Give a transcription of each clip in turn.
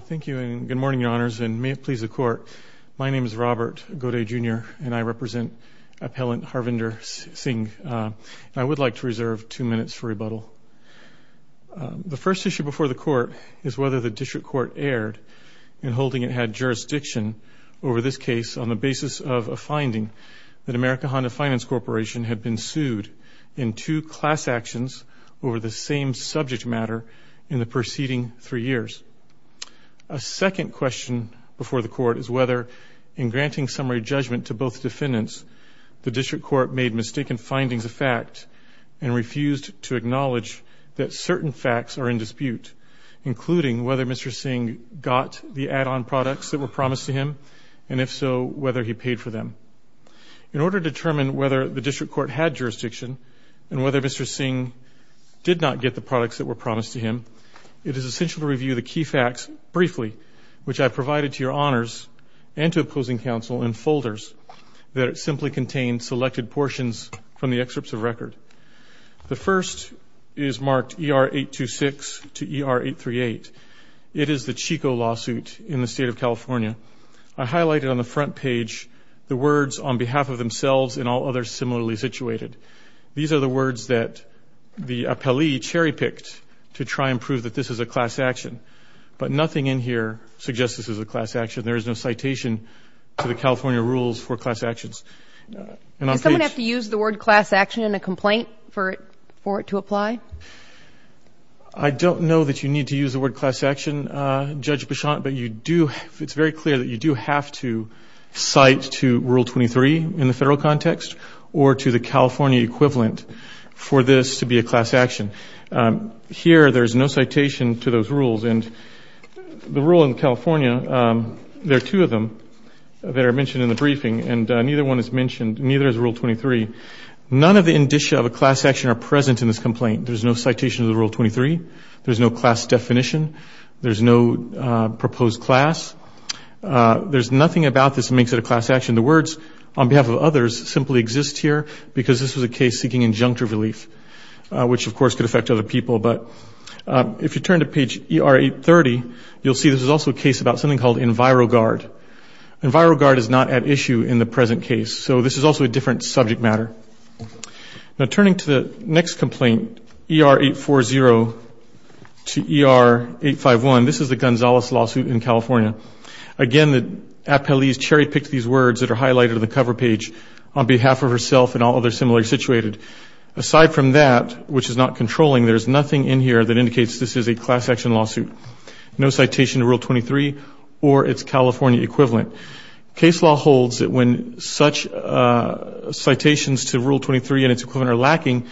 Thank you and good morning, Your Honors, and may it please the Court, my name is Robert Godet, Jr. and I represent appellant Harvinder Singh. I would like to reserve two minutes for rebuttal. The first issue before the Court is whether the District Court erred in holding it had jurisdiction over this case on the basis of a finding that American Honda Finance Corporation had been sued in two class actions over the same subject matter in the preceding three years. A second question before the Court is whether, in granting summary judgment to both defendants, the District Court made mistaken findings a fact and refused to acknowledge that certain facts are in dispute, including whether Mr. Singh got the add-on products that were promised to him, and if so, whether he paid for them. In order to determine whether the District Court had jurisdiction and whether Mr. Singh did not get the products that were promised to him, it is essential to review the key facts briefly, which I provided to Your Honors and to opposing counsel in folders that simply contain selected portions from the excerpts of record. The first is marked ER 826 to ER 838. It is the Chico lawsuit in the state of California. I highlighted on the front page the words on behalf of themselves and all others similarly situated. These are the words that the appellee cherry-picked to try and prove that this is a class action, but nothing in here suggests this is a class action. There is no citation to the California rules for class actions. Does someone have to use the word class action in a complaint for it to apply? I don't know that you need to use the word class action, Judge Bichon, but you do, it's very clear that you do have to cite to Rule 23 in the federal context or to the California equivalent for this to be a class action. Here there's no citation to those rules and the rule in California, there are two of them that are mentioned in the briefing and neither one is mentioned, neither is Rule 23. None of the indicia of a class action are present in this complaint. There's no citation of the Rule 23. There's no class definition. There's no proposed class. There's nothing about this makes it a class action. The words on behalf of others simply exist here because this was a case seeking injunctive relief, which of course could affect other people, but if you turn to page ER 830, you'll see this is also a case about something called EnviroGuard. EnviroGuard is not at issue in the present case, so this is also a different subject matter. Now turning to the next complaint, ER 840 to ER 851, this is the Gonzalez lawsuit in California. Again, the appellee's cherry- picked words that are highlighted on the cover page, on behalf of herself and all others similarly situated. Aside from that, which is not controlling, there's nothing in here that indicates this is a class action lawsuit. No citation to Rule 23 or its California equivalent. Case law holds that when such citations to Rule 23 and its equivalent are lacking,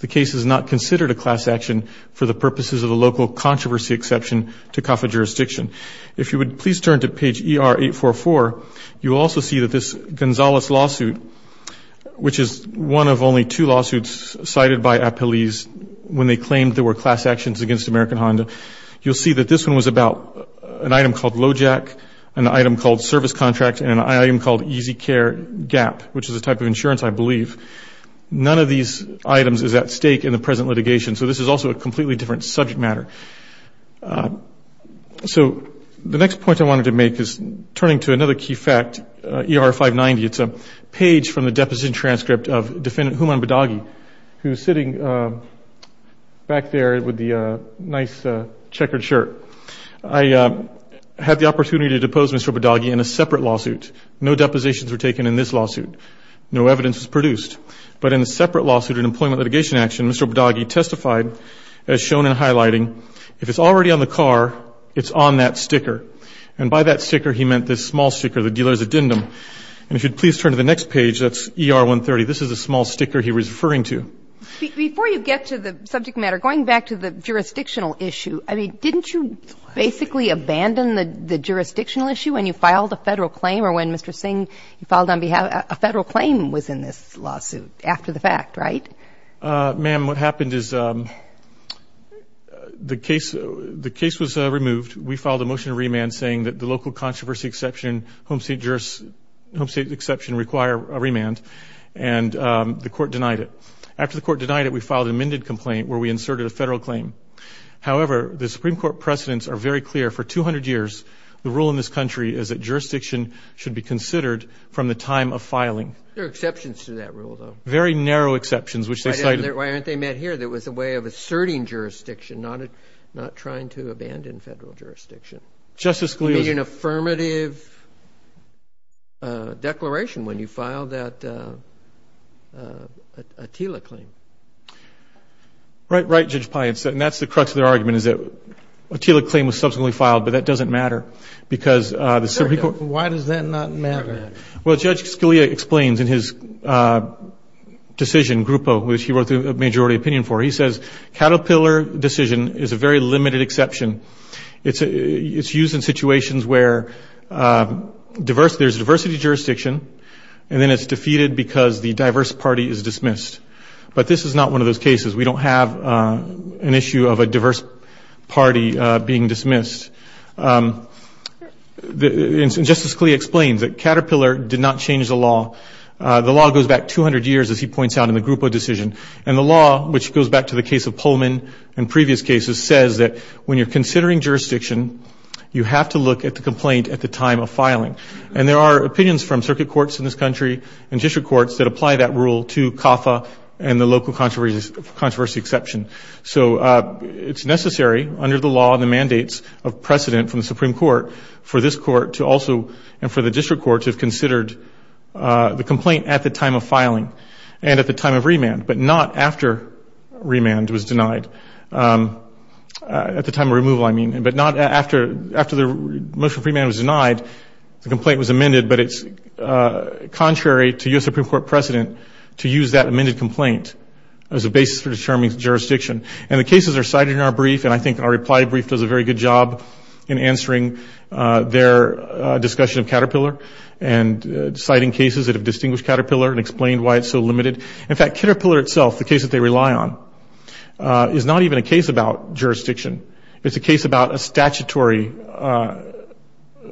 the case is not considered a class action for the purposes of the local controversy exception to COFA jurisdiction. If you would please turn to page ER 844, you also see that this Gonzalez lawsuit, which is one of only two lawsuits cited by appellees when they claimed there were class actions against American Honda, you'll see that this one was about an item called Lojack, an item called Service Contract, and an item called Easy Care Gap, which is a type of insurance, I believe. None of these items is at stake in the present litigation, so this is also a completely different subject matter. So the next point I wanted to make is turning to another key fact, ER 590. It's a page from the deposition transcript of Defendant Human Badagi, who's sitting back there with the nice checkered shirt. I had the opportunity to depose Mr. Badagi in a separate lawsuit. No depositions were taken in this lawsuit. No evidence was produced. But in the separate lawsuit in Employment Litigation Action, Mr. Badagi testified, as shown in highlighting, if it's already on the car, it's on that sticker. And by that sticker, he meant this small sticker, the dealer's addendum. And if you'd please turn to the next page, that's ER 130. This is the small sticker he was referring to. Before you get to the subject matter, going back to the jurisdictional issue, I mean, didn't you basically abandon the jurisdictional issue when you filed a Federal claim or when, Mr. Singh, you filed on behalf of a Federal claim was in this case? Ma'am, what happened is the case was removed. We filed a motion to remand saying that the local controversy exception, home state exception require a remand. And the court denied it. After the court denied it, we filed an amended complaint where we inserted a Federal claim. However, the Supreme Court precedents are very clear. For 200 years, the rule in this country is that jurisdiction should be considered from the time of filing. There are exceptions to that rule, though. Very narrow exceptions, which they cited. Why aren't they met here? That was a way of asserting jurisdiction, not trying to abandon Federal jurisdiction. Justice Scalia's It would be an affirmative declaration when you filed that Attila claim. Right. Right, Judge Pai. And that's the crux of their argument, is that Attila claim was subsequently filed, but that doesn't matter because the Supreme Court Why does that not matter? Well, Judge Scalia explains in his decision, groupo, which he wrote the majority opinion for, he says, caterpillar decision is a very limited exception. It's used in situations where there's diversity jurisdiction, and then it's defeated because the diverse party is dismissed. But this is not one of those cases. We don't have an issue of a diverse party being dismissed. Justice Scalia explains that caterpillar did not change the law. The law goes back 200 years, as he points out, in the groupo decision. And the law, which goes back to the case of Pullman and previous cases, says that when you're considering jurisdiction, you have to look at the complaint at the time of filing. And there are opinions from circuit courts in this country and district courts that apply that rule to CAFA and the local controversy exception. So it's necessary under the law and the mandates of precedent from the Supreme Court for this court to also, and for the district courts, have considered the complaint at the time of filing and at the time of remand, but not after remand was denied. At the time of removal, I mean. But not after the motion of remand was denied, the complaint was amended, but it's contrary to U.S. Supreme Court precedent to use that amended complaint as a basis for jurisdiction. And the cases are cited in our brief, and I think our reply brief does a very good job in answering their discussion of caterpillar and citing cases that have distinguished caterpillar and explained why it's so limited. In fact, caterpillar itself, the case that they rely on, is not even a case about jurisdiction. It's a case about a statutory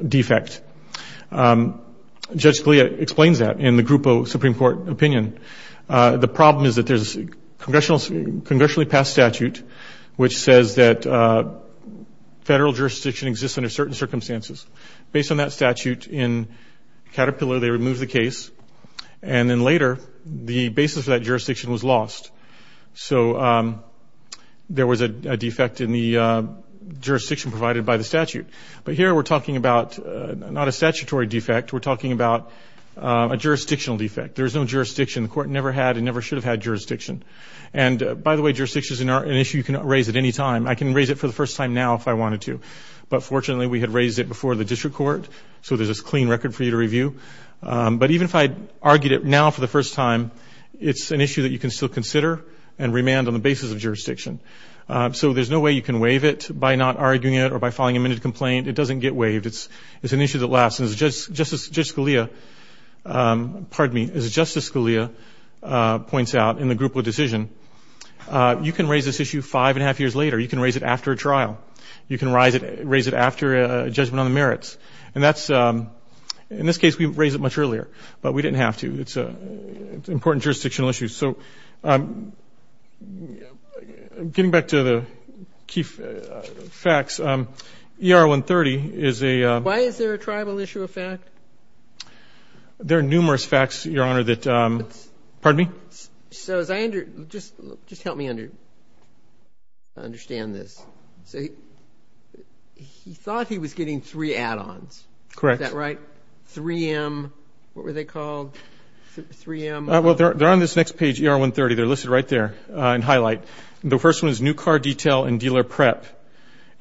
defect. Judge Scalia explains that in the groupo Supreme Court opinion. The problem is that there's a congressionally passed statute which says that federal jurisdiction exists under certain circumstances. Based on that statute, in caterpillar they remove the case, and then later the basis for that jurisdiction was lost. So there was a defect in the jurisdiction provided by the statute. But here we're talking about not a statutory defect. We're talking about a jurisdictional defect. There's no jurisdiction. The court never had and never should have had jurisdiction. And by the way, jurisdiction is an issue you can raise at any time. I can raise it for the first time now if I wanted to. But fortunately, we had raised it before the district court, so there's this clean record for you to review. But even if I argued it now for the first time, it's an issue that you can still consider and remand on the basis of jurisdiction. So there's no way you can waive it by not arguing it or by filing amended complaint. It doesn't get waived. It's an issue that lasts. As Justice Scalia points out in the group with decision, you can raise this issue five and a half years later. You can raise it after a trial. You can raise it after a judgment on the merits. And that's ‑‑ in this case, we raised it much earlier, but we didn't have to. It's an important jurisdictional issue. So getting back to the key facts, ER 130 is a ‑‑ Why is there a tribal issue of fact? There are numerous facts, Your Honor, that ‑‑ Pardon me? So as I ‑‑ just help me understand this. So he thought he was getting three add-ons. Correct. Is that right? 3M, what were they called? 3M ‑‑ Well, they're on this next page, ER 130. They're listed right there in highlight. The first one is new car detail and dealer prep.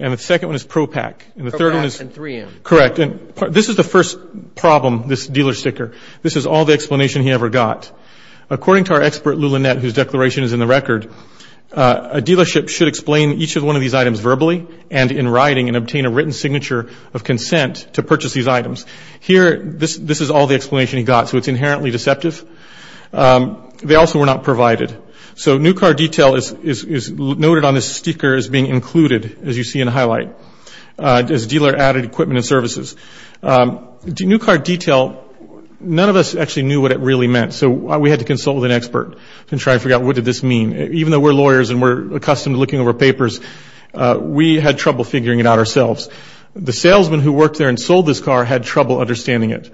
And the second one is PROPAC. And the third one is ‑‑ PROPAC and 3M. Correct. And this is the first problem, this dealer sticker. This is all the explanation he ever got. According to our expert, Lou Lynette, whose declaration is in the record, a dealership should explain each of one of these items verbally and in writing and obtain a written signature of consent to purchase these items. Here, this is all the explanation he got. So it's inherently deceptive. They also were not provided. So new car detail is noted on this sticker as being included, as you see in highlight. This dealer added equipment and services. New car detail, none of us actually knew what it really meant. So we had to consult with an expert and try to figure out what did this mean. Even though we're lawyers and we're accustomed to looking over papers, we had trouble figuring it out ourselves. The salesman who worked there and sold this car had trouble understanding it.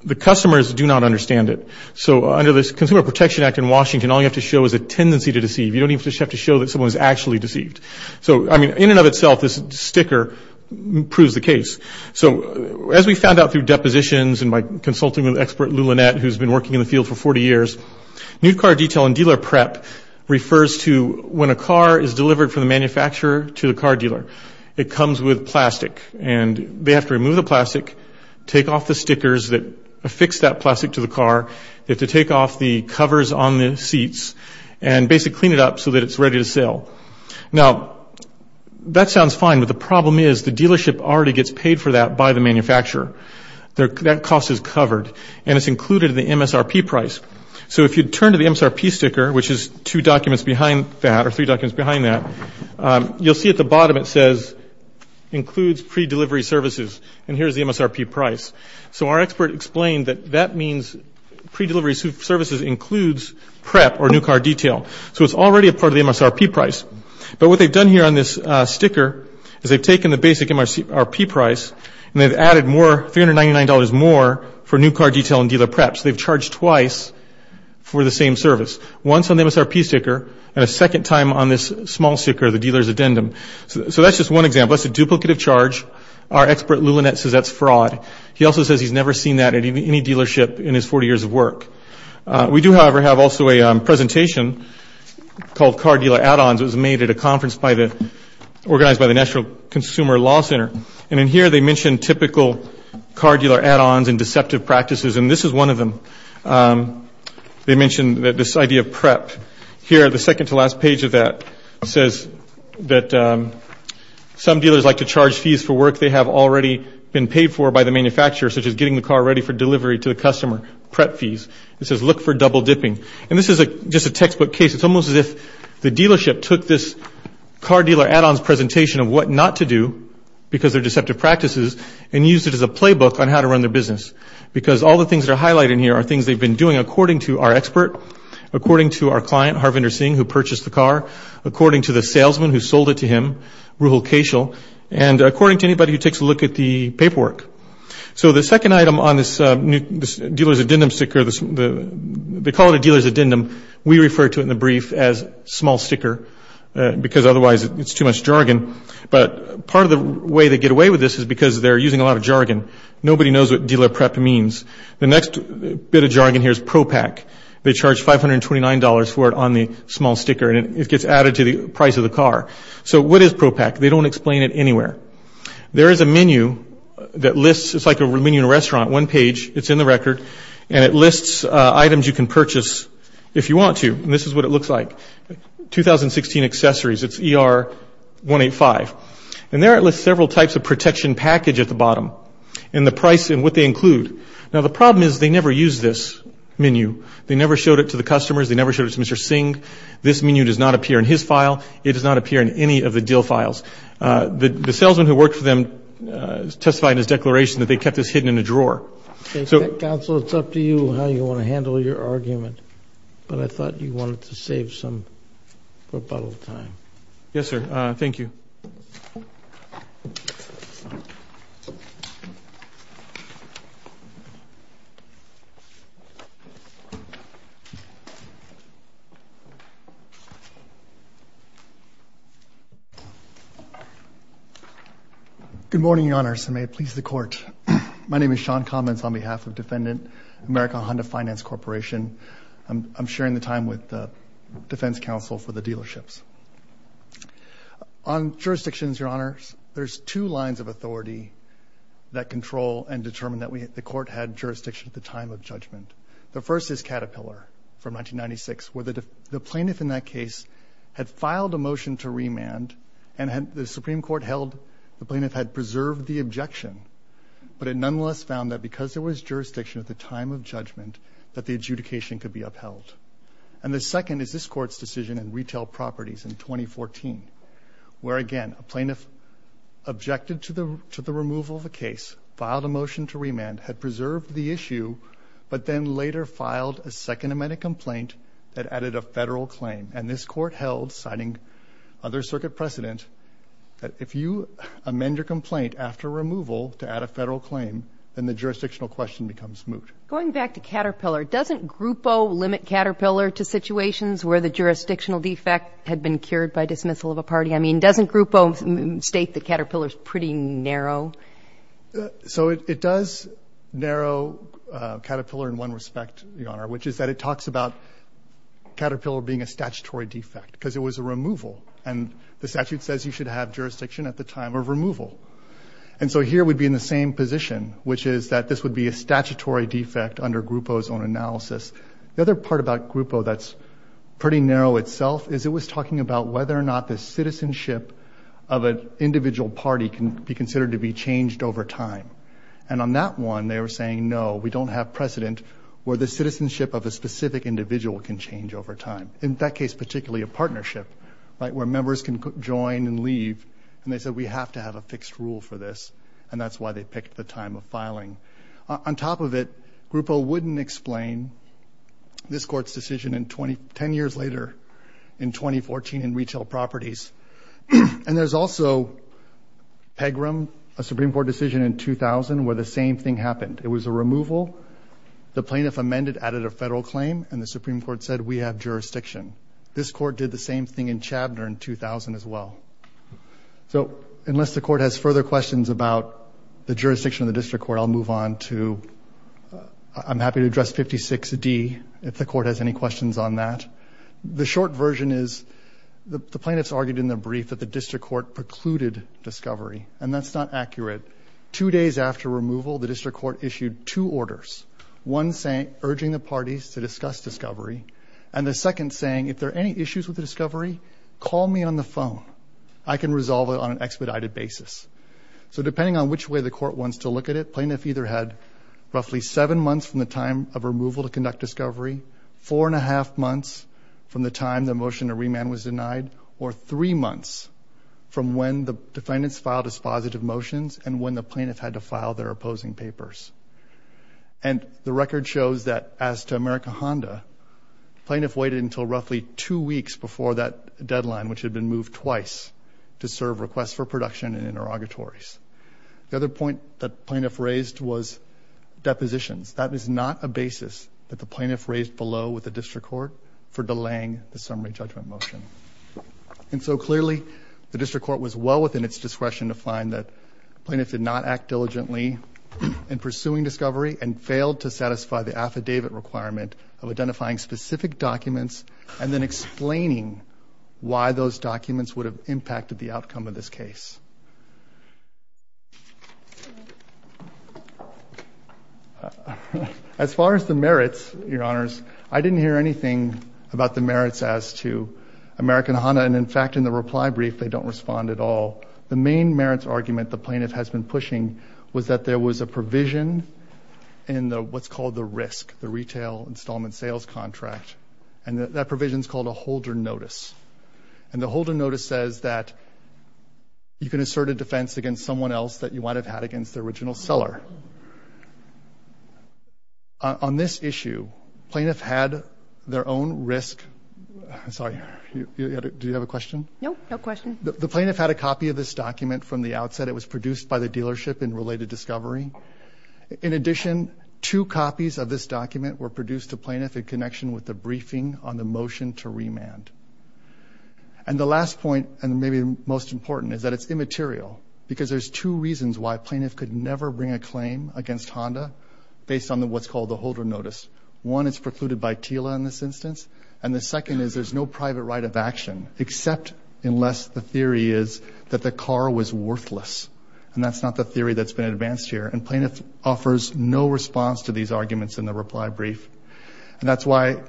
The customers do not understand it. So under the Consumer Protection Act in Washington, all you have to show is a tendency to deceive. You don't even have to show that someone is actually deceived. So, I mean, in and of itself, this sticker proves the case. So as we found out through depositions and by consulting with expert Lou Lynette, who's been working in the field for 40 years, new car detail and dealer prep refers to when a car is delivered from the manufacturer to the car dealer. It comes with plastic. And they have to remove the plastic, take off the stickers that affix that plastic to the car. They have to take off the covers on the seats and basically clean it up so that it's ready to sell. Now, that sounds fine, but the problem is the dealership already gets paid for that by the manufacturer. That cost is covered and it's included in the MSRP price. So if you turn to the MSRP sticker, which is two documents behind that or three documents behind that, you'll see at the bottom it says includes pre-delivery services. And here's the MSRP price. So our expert explained that that means pre-delivery services includes prep or new car detail. So it's already a part of the MSRP price. But what they've done here on this sticker is they've taken the basic MSRP price and they've added more, $399 more for new car detail and dealer prep. So they've charged twice for the same service. Once on the MSRP sticker and a second time on this small sticker, the dealer's addendum. So that's just one example. That's a duplicative charge. Our expert Lou Lynette says that's fraud. He also says he's never seen that at any dealership in his 40 years of work. We do, however, have also a presentation called Car Dealer Add-Ons. It was made at a conference by the, organized by the National Consumer Law Center. And in here they mention typical car dealer add-ons and deceptive practices. And this is one of them. They mention that this idea of prep. Here, the second to last page of that says that some dealers like to charge fees for work they have already been paid for by the manufacturer, such as getting the car ready for delivery to the customer, prep fees. It says look for double dipping. And this is just a textbook case. It's almost as if the dealership took this car dealer add-ons presentation of what not to do because they're deceptive practices and used it as a playbook on how to run their business. Because all the things that are highlighted in here are things they've been doing according to our expert, according to our client, Harvinder Singh, who purchased the car, according to the salesman who sold it to him, Ruhal Keshal, and according to anybody who takes a look at the paperwork. So the second item on this dealer's addendum sticker, they call it a dealer's addendum. We refer to it in the brief as small sticker because otherwise it's too much jargon. But part of the way they get away with this is because they're using a lot of jargon. Nobody knows what dealer prep means. The next bit of jargon here is ProPak. They charge $529 for it on the small sticker and it gets added to the price of the car. So what is ProPak? They don't explain it anywhere. There is a menu that lists, it's like a menu in a restaurant, one page, it's in the record, and it lists items you can purchase if you want to. And this is what it looks like. 2016 accessories, it's ER 185. And there it lists several types of protection package at the bottom and the price and what they include. Now the problem is they never use this menu. They never showed it to the customers. They never showed it to Mr. Singh. This menu does not appear in his file. It does not appear in any of the deal files. The salesman who worked for them testified in his declaration that they kept this hidden in a drawer. Okay, counsel, it's up to you how you want to handle your argument. But I thought you wanted to save some rebuttal time. Yes, sir. Thank you. Good morning, Your Honors, and may it please the Court. My name is Sean Commins on behalf of Defendant America Honda Finance Corporation. I'm sharing the time with the Defense Counsel for the dealerships. On jurisdictions, Your Honors, there's two lines of authority that control and determine that the Court had jurisdiction at the time of judgment. The first is Caterpillar from And the Supreme Court held the plaintiff had preserved the objection, but it nonetheless found that because there was jurisdiction at the time of judgment, that the adjudication could be upheld. And the second is this Court's decision in Retail Properties in 2014, where again a plaintiff objected to the removal of a case, filed a motion to remand, had preserved the issue, but then later filed a second amendment complaint that added a Federal claim. And this Court held, citing other circuit precedent, that if you amend your complaint after removal to add a Federal claim, then the jurisdictional question becomes moot. Going back to Caterpillar, doesn't Grupo limit Caterpillar to situations where the jurisdictional defect had been cured by dismissal of a party? I mean, doesn't Grupo state that Caterpillar is pretty narrow? So it does narrow Caterpillar in one respect, Your Honor, which is that it talks about Caterpillar being a statutory defect, because it was a removal. And the statute says you should have jurisdiction at the time of removal. And so here we'd be in the same position, which is that this would be a statutory defect under Grupo's own analysis. The other part about Grupo that's pretty narrow itself is it was talking about whether or not the citizenship of an individual party can be considered to be changed over time. And on that one, they were saying, no, we don't have precedent where the citizenship of a specific individual can change over time. In that case, particularly a partnership, right, where members can join and leave. And they said, we have to have a fixed rule for this. And that's why they picked the time of filing. On top of it, Grupo wouldn't explain this Court's decision in 20, 10 years later, in 2014, in retail properties. And there's also PEGRM, a Supreme Court decision in 2000, where the same thing happened. It was a removal. The plaintiff amended, added a federal claim, and the Supreme Court said, we have jurisdiction. This Court did the same thing in Chabner in 2000 as well. So unless the Court has further questions about the jurisdiction of the district court, I'll move on to, I'm happy to address 56D, if the Court has any questions on that. The short version is, the plaintiffs argued in their brief that the district court precluded discovery. And that's not accurate. Two days after removal, the district court issued two orders. One saying, urging the parties to discuss discovery. And the second saying, if there are any issues with the discovery, call me on the phone. I can resolve it on an expedited basis. So depending on which way the Court wants to look at it, plaintiff either had roughly seven months from the time of removal to conduct discovery, four and a half months from the time the motion to remand was denied, or three months from when the defendants filed as positive motions and when the plaintiff had to file their opposing papers. And the record shows that, as to America Honda, the plaintiff waited until roughly two weeks before that deadline, which had been moved twice, to serve requests for production and interrogatories. The other point the plaintiff raised was depositions. That is not a basis that the plaintiff raised below with the district court for delaying the summary judgment motion. And so clearly, the district court was well within its discretion to find that the plaintiff did not act diligently in pursuing discovery and failed to satisfy the affidavit requirement of identifying specific documents and then explaining why those documents would have impacted the outcome of this case. As far as the merits, Your Honors, I didn't hear anything about the merits as to America Honda. And in fact, in the reply brief, they don't respond at all. The main merits argument the plaintiff has been pushing was that there was a provision in what's called the RISC, the Retail Installment Sales Contract. And that provision is called a holder notice. And the holder notice says that you can assert a defense against someone else that you might have had against the original seller. On this issue, plaintiff had their own RISC. Sorry, do you have a question? No, no question. The plaintiff had a copy of this document from the outset. It was produced by the dealership in related discovery. In addition, two copies of this document were produced to plaintiff in connection with the briefing on the motion to remand. And the last point, and maybe the most important, is that it's immaterial because there's two reasons why plaintiff could never bring a claim against Honda based on what's called the holder notice. One, it's precluded by TILA in this instance. And the second is there's no private right of action except unless the theory is that the car was worthless. And that's not the theory that's been advanced here. And plaintiff offers no response to these arguments in the reply brief. And that's why,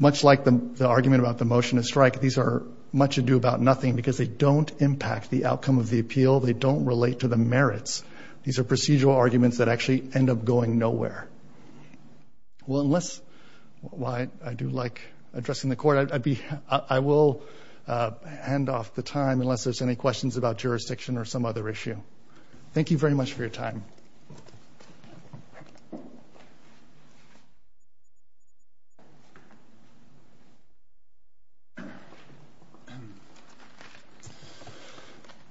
much like the argument about the motion to strike, these are much ado about nothing because they don't impact the outcome of the appeal. They don't relate to the merits. These are procedural arguments that actually end up going nowhere. Well, unless, while I do like addressing the court, I will hand off the time unless there's any questions about jurisdiction or some other issue. Thank you very much for your time.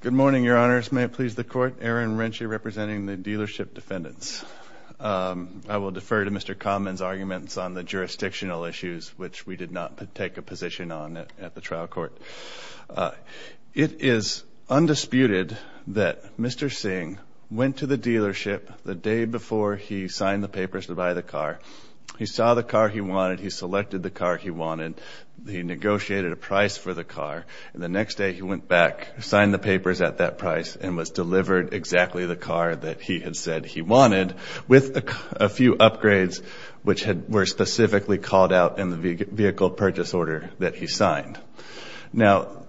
Good morning, Your Honors. May it please the Court. Aaron Renche representing the dealership defendants. I will defer to Mr. Common's arguments on the jurisdictional issues, which we did not take a position on at the trial court. It is undisputed that Mr. Singh went to the dealership to buy the car. He saw the car he wanted. He selected the car he wanted. He negotiated a price for the car. And the next day, he went back, signed the papers at that price, and was delivered exactly the car that he had said he wanted with a few upgrades which were specifically called out in the vehicle purchase order that he signed. Now,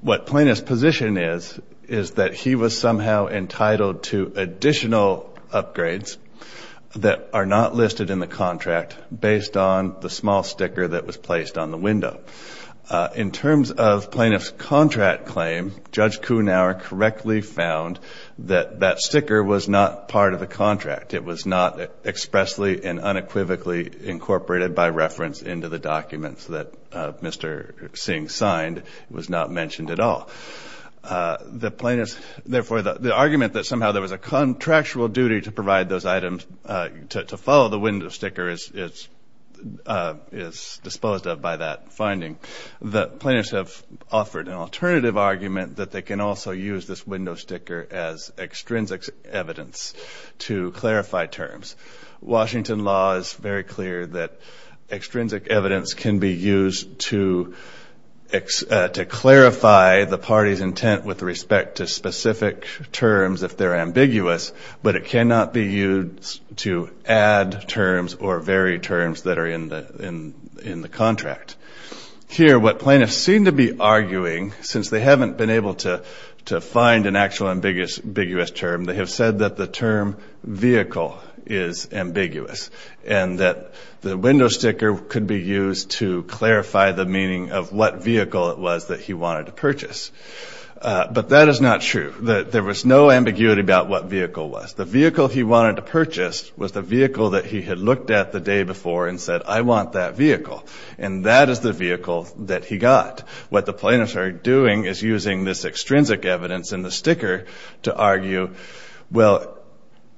what plaintiff's position is, is that he was somehow entitled to additional upgrades that are not listed in the contract based on the small sticker that was placed on the window. In terms of plaintiff's contract claim, Judge Kuhnauer correctly found that that sticker was not part of the contract. It was not expressly and unequivocally incorporated by reference into the documents that Mr. Singh signed. It was not mentioned at all. The plaintiff's, therefore, the argument that somehow there was a contractual duty to provide those items, to follow the window sticker, is disposed of by that finding. The plaintiffs have offered an alternative argument that they can also use this window sticker as extrinsic evidence to clarify terms. Washington law is very clear that extrinsic evidence can be used to clarify the party's intent with respect to specific terms if they're ambiguous, but it cannot be used to add terms or vary terms that are in the contract. Here, what plaintiffs seem to be arguing, since they haven't been able to find an actual ambiguous term, they have said that the term vehicle is ambiguous and that the window sticker could be used to clarify the meaning of what vehicle it was. But that is not true. There was no ambiguity about what vehicle was. The vehicle he wanted to purchase was the vehicle that he had looked at the day before and said, I want that vehicle. And that is the vehicle that he got. What the plaintiffs are doing is using this extrinsic evidence in the sticker to argue, well,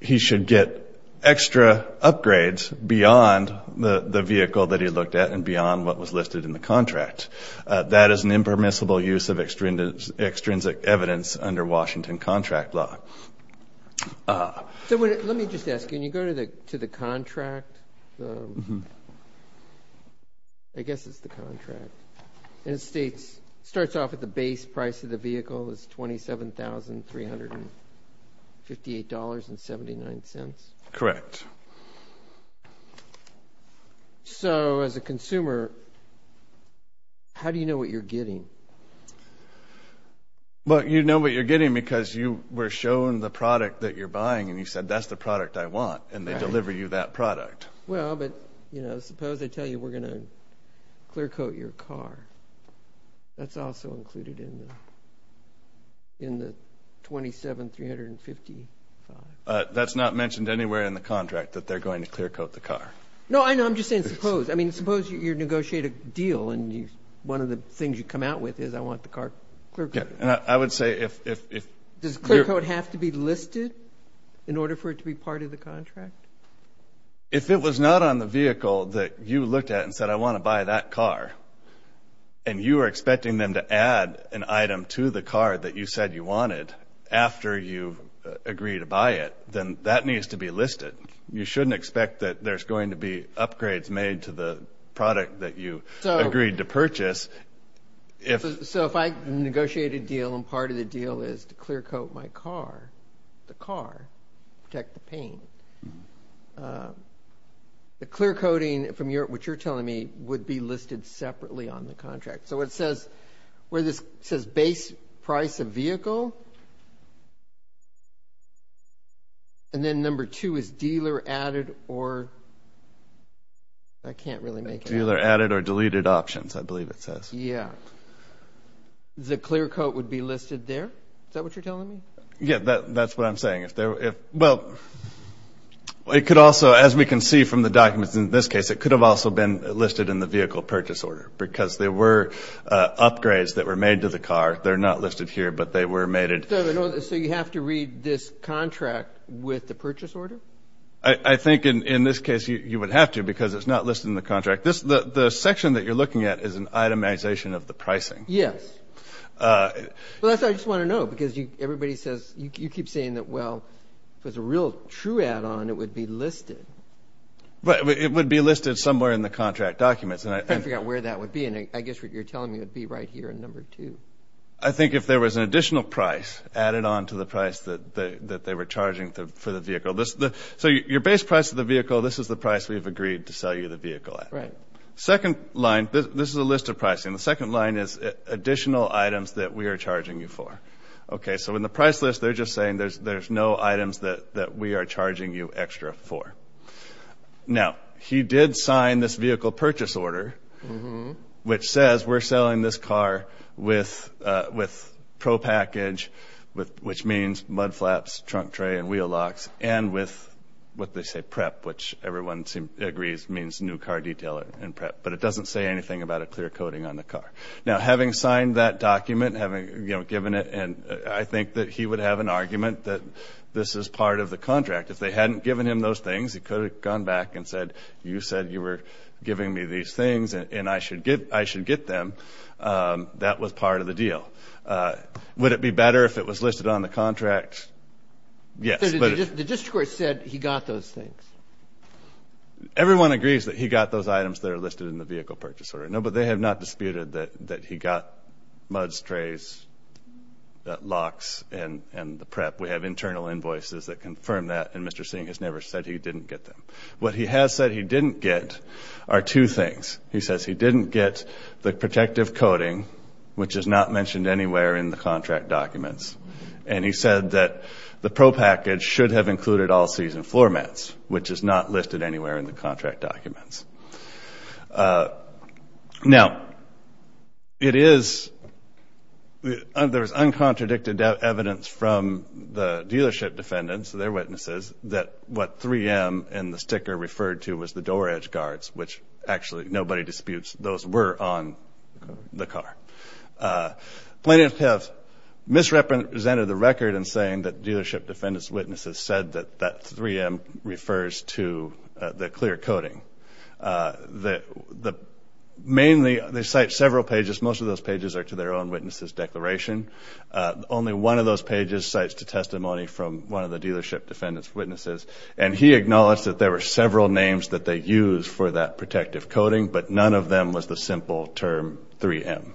he should get extra upgrades beyond the vehicle that he looked at and beyond what was listed in the contract. That is an impermissible use of extrinsic evidence under Washington contract law. Let me just ask, can you go to the contract? I guess it's the contract. And it states, starts off at the base price of the vehicle is $27,358.79. Correct. So as a consumer, how do you know what you're getting? Well, you know what you're getting because you were shown the product that you're buying and you said, that's the product I want. And they deliver you that product. Well, but, you know, suppose they tell you we're going to clear coat your car. That's also included in the $27,355. That's not mentioned anywhere in the contract that they're going to clear coat the car. No, I know. I'm just saying suppose. I mean, suppose you negotiate a deal and one of the things you come out with is, I want the car clear coated. I would say if. Does clear coat have to be listed in order for it to be part of the contract? If it was not on the vehicle that you looked at and said, I want to buy that car, and you were expecting them to add an item to the car that you said you wanted after you agreed to buy it, then that needs to be listed. You shouldn't expect that there's going to be upgrades made to the product that you agreed to purchase. So if I negotiate a deal and part of the deal is to clear coat my car, the car, protect the paint, the clear coating from what you're telling me would be listed separately on the contract. So it says where this says base price of vehicle. And then number two is dealer added or. I can't really make it. Dealer added or deleted options, I believe it says. Yeah. The clear coat would be listed there. Is that what you're telling me? Yeah, that's what I'm saying. If there were, if, well, it could also, as we can see from the documents in this case, it could have also been listed in the vehicle purchase order because there were upgrades that were made to the car. They're not listed here, but they were made to the car. So you have to read this contract with the purchase order? I think in this case you would have to because it's not listed in the contract. The section that you're looking at is an itemization of the pricing. Yes. Well, that's what I just want to know because everybody says you keep saying that, well, if it's a real true add on, it would be listed. But it would be listed somewhere in the contract documents. And I forgot where that would be. And I guess what you're telling me would be right here in number two. I think if there was an additional price added on to the price that they were charging for the vehicle. So your base price of the vehicle, this is the price we've agreed to sell you the vehicle at. Right. Second line, this is a list of pricing. The second line is additional items that we are charging you for. Okay. So in the price list, they're just saying there's no items that we are charging you extra for. Now, he did sign this vehicle purchase order, which says we're selling this car with pro package, which means mud flaps, trunk tray and wheel locks, and with what they say prep, which everyone agrees means new car detailer and prep. But it doesn't say anything about a clear coating on the car. Now, having signed that document, having given it, and I think that he would have an argument that this is part of the contract. If they hadn't given him those things, he could have gone back and said, you said you were giving me these things and I should get them. That was part of the deal. Would it be better if it was listed on the contract? Yes. The district court said he got those things. Everyone agrees that he got those items that are listed in the vehicle purchase order. No, but they have not disputed that he got mud strays, locks and the prep. We have internal invoices that confirm that. And Mr. Singh has he didn't get the protective coating, which is not mentioned anywhere in the contract documents. And he said that the pro package should have included all season floor mats, which is not listed anywhere in the contract documents. Now, it is, there's uncontradicted evidence from the dealership defendants, their witnesses, that what 3M and the sticker referred to was the door edge guards, which actually nobody disputes those were on the car. Plaintiffs have misrepresented the record and saying that dealership defendants' witnesses said that that 3M refers to the clear coating. Mainly, they cite several pages. Most of those pages are to their own witnesses' declaration. Only one of those pages cites the testimony from one of the dealership defendants' witnesses. And he acknowledged that there were several names that they used for that protective coating, but none of them was the simple term 3M.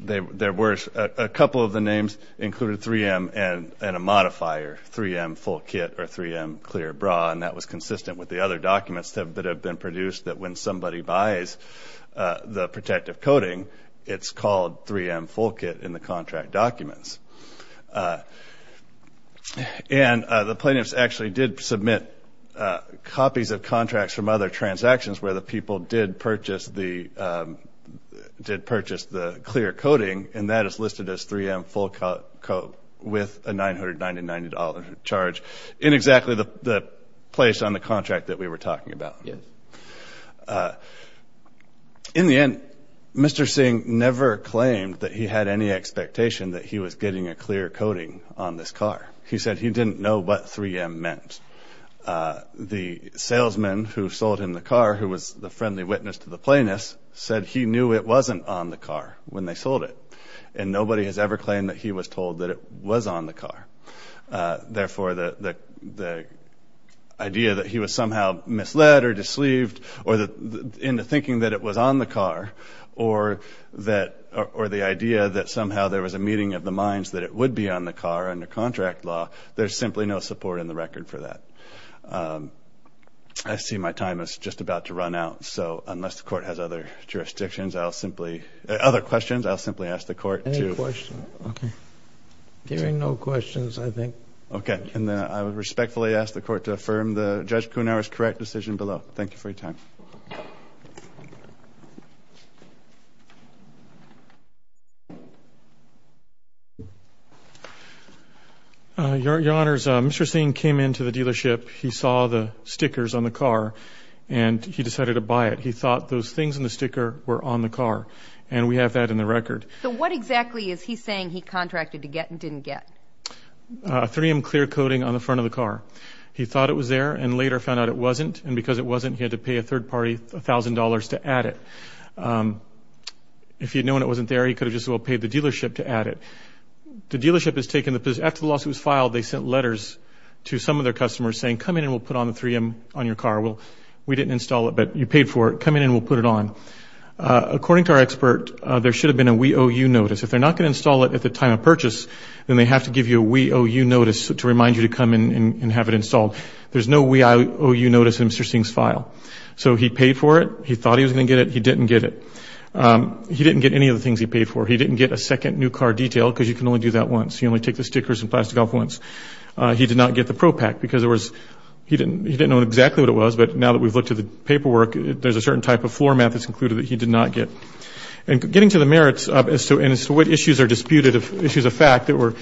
There were a couple of the names included 3M and a modifier, 3M full kit or 3M clear bra. And that was consistent with the other documents that have been produced that when somebody buys the protective coating, it's called 3M full kit in the contract documents. And the plaintiffs actually did submit copies of contracts from other transactions where the people did purchase the clear coating, and that is listed as 3M full coat with a $999 charge in exactly the place on the contract that we were talking about. In the end, Mr. Singh never claimed that he had any expectation that he was getting a clear coating on this car. He said he didn't know what 3M meant. The salesman who sold him the car, who was the friendly witness to the plaintiffs, said he knew it wasn't on the car when they sold it. And nobody has ever claimed that he was told that it was on the car. Therefore, the idea that he was somehow misled or disleaved, or into thinking that it was on the car, or the idea that somehow there was a meeting of the minds that it would be on the car under contract law, there's simply no support in the record for that. I see my time is just about to run out, so unless the court has other jurisdictions, I'll simply, other questions, I'll simply ask the court to... Any questions? Okay. There are no questions, I think. Okay, and then I would respectfully ask the court to affirm Judge Kounoura's correct decision below. Thank you for your time. Your honors, Mr. Singh came into the dealership, he saw the stickers on the car, and he decided to buy it. He thought those things in the sticker were on the car, and we have that in the record. So what exactly is he saying he contracted to get and didn't get? A 3M clear coating on the front of the car. He thought it was there, and later found out it wasn't, and because it wasn't, he had to pay a third party a thousand dollars to add it. If he'd known it wasn't there, he could have just as well paid the dealership to add it. The dealership has taken the... After the lawsuit was filed, they sent letters to some of their customers saying, come in and we'll put on the car. We didn't install it, but you paid for it. Come in and we'll put it on. According to our expert, there should have been a WEOU notice. If they're not going to install it at the time of purchase, then they have to give you a WEOU notice to remind you to come in and have it installed. There's no WEOU notice in Mr. Singh's file. So he paid for it, he thought he was going to get it, he didn't get it. He didn't get any of the things he paid for. He didn't get a second new car detail because you can only do that once. You only take the stickers and plastic off once. He did not get the ProPact because he didn't know exactly what it was, but now that we've looked at the paperwork, there's a certain type of floor mat that's included that he did not get. And getting to the merits as to what issues are disputed, issues of fact that were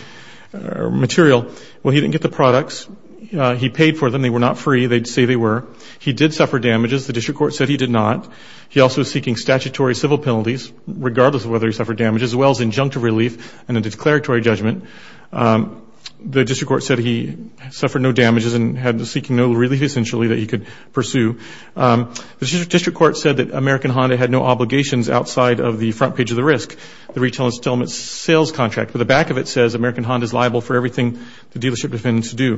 material, well, he didn't get the products. He paid for them. They were not free. They'd say they were. He did suffer damages. The district court said he did not. He also was seeking statutory civil penalties, regardless of whether he suffered damages, as well as injunctive relief and a declaratory judgment. The district court said he suffered no damages and had seeking no relief, essentially, that he could pursue. The district court said that American Honda had no obligations outside of the front page of the risk, the retail installment sales contract. But the back of it says American Honda is liable for everything the dealership defendants do.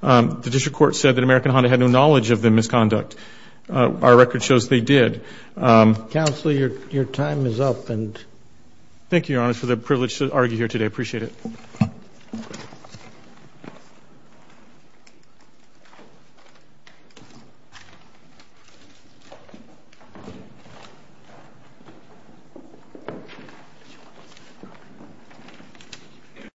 The district court said that American Honda had no knowledge of the misconduct. Our record shows they did. Counselor, your time is up. Thank you, Your Honor, for the privilege to argue here today. I appreciate it.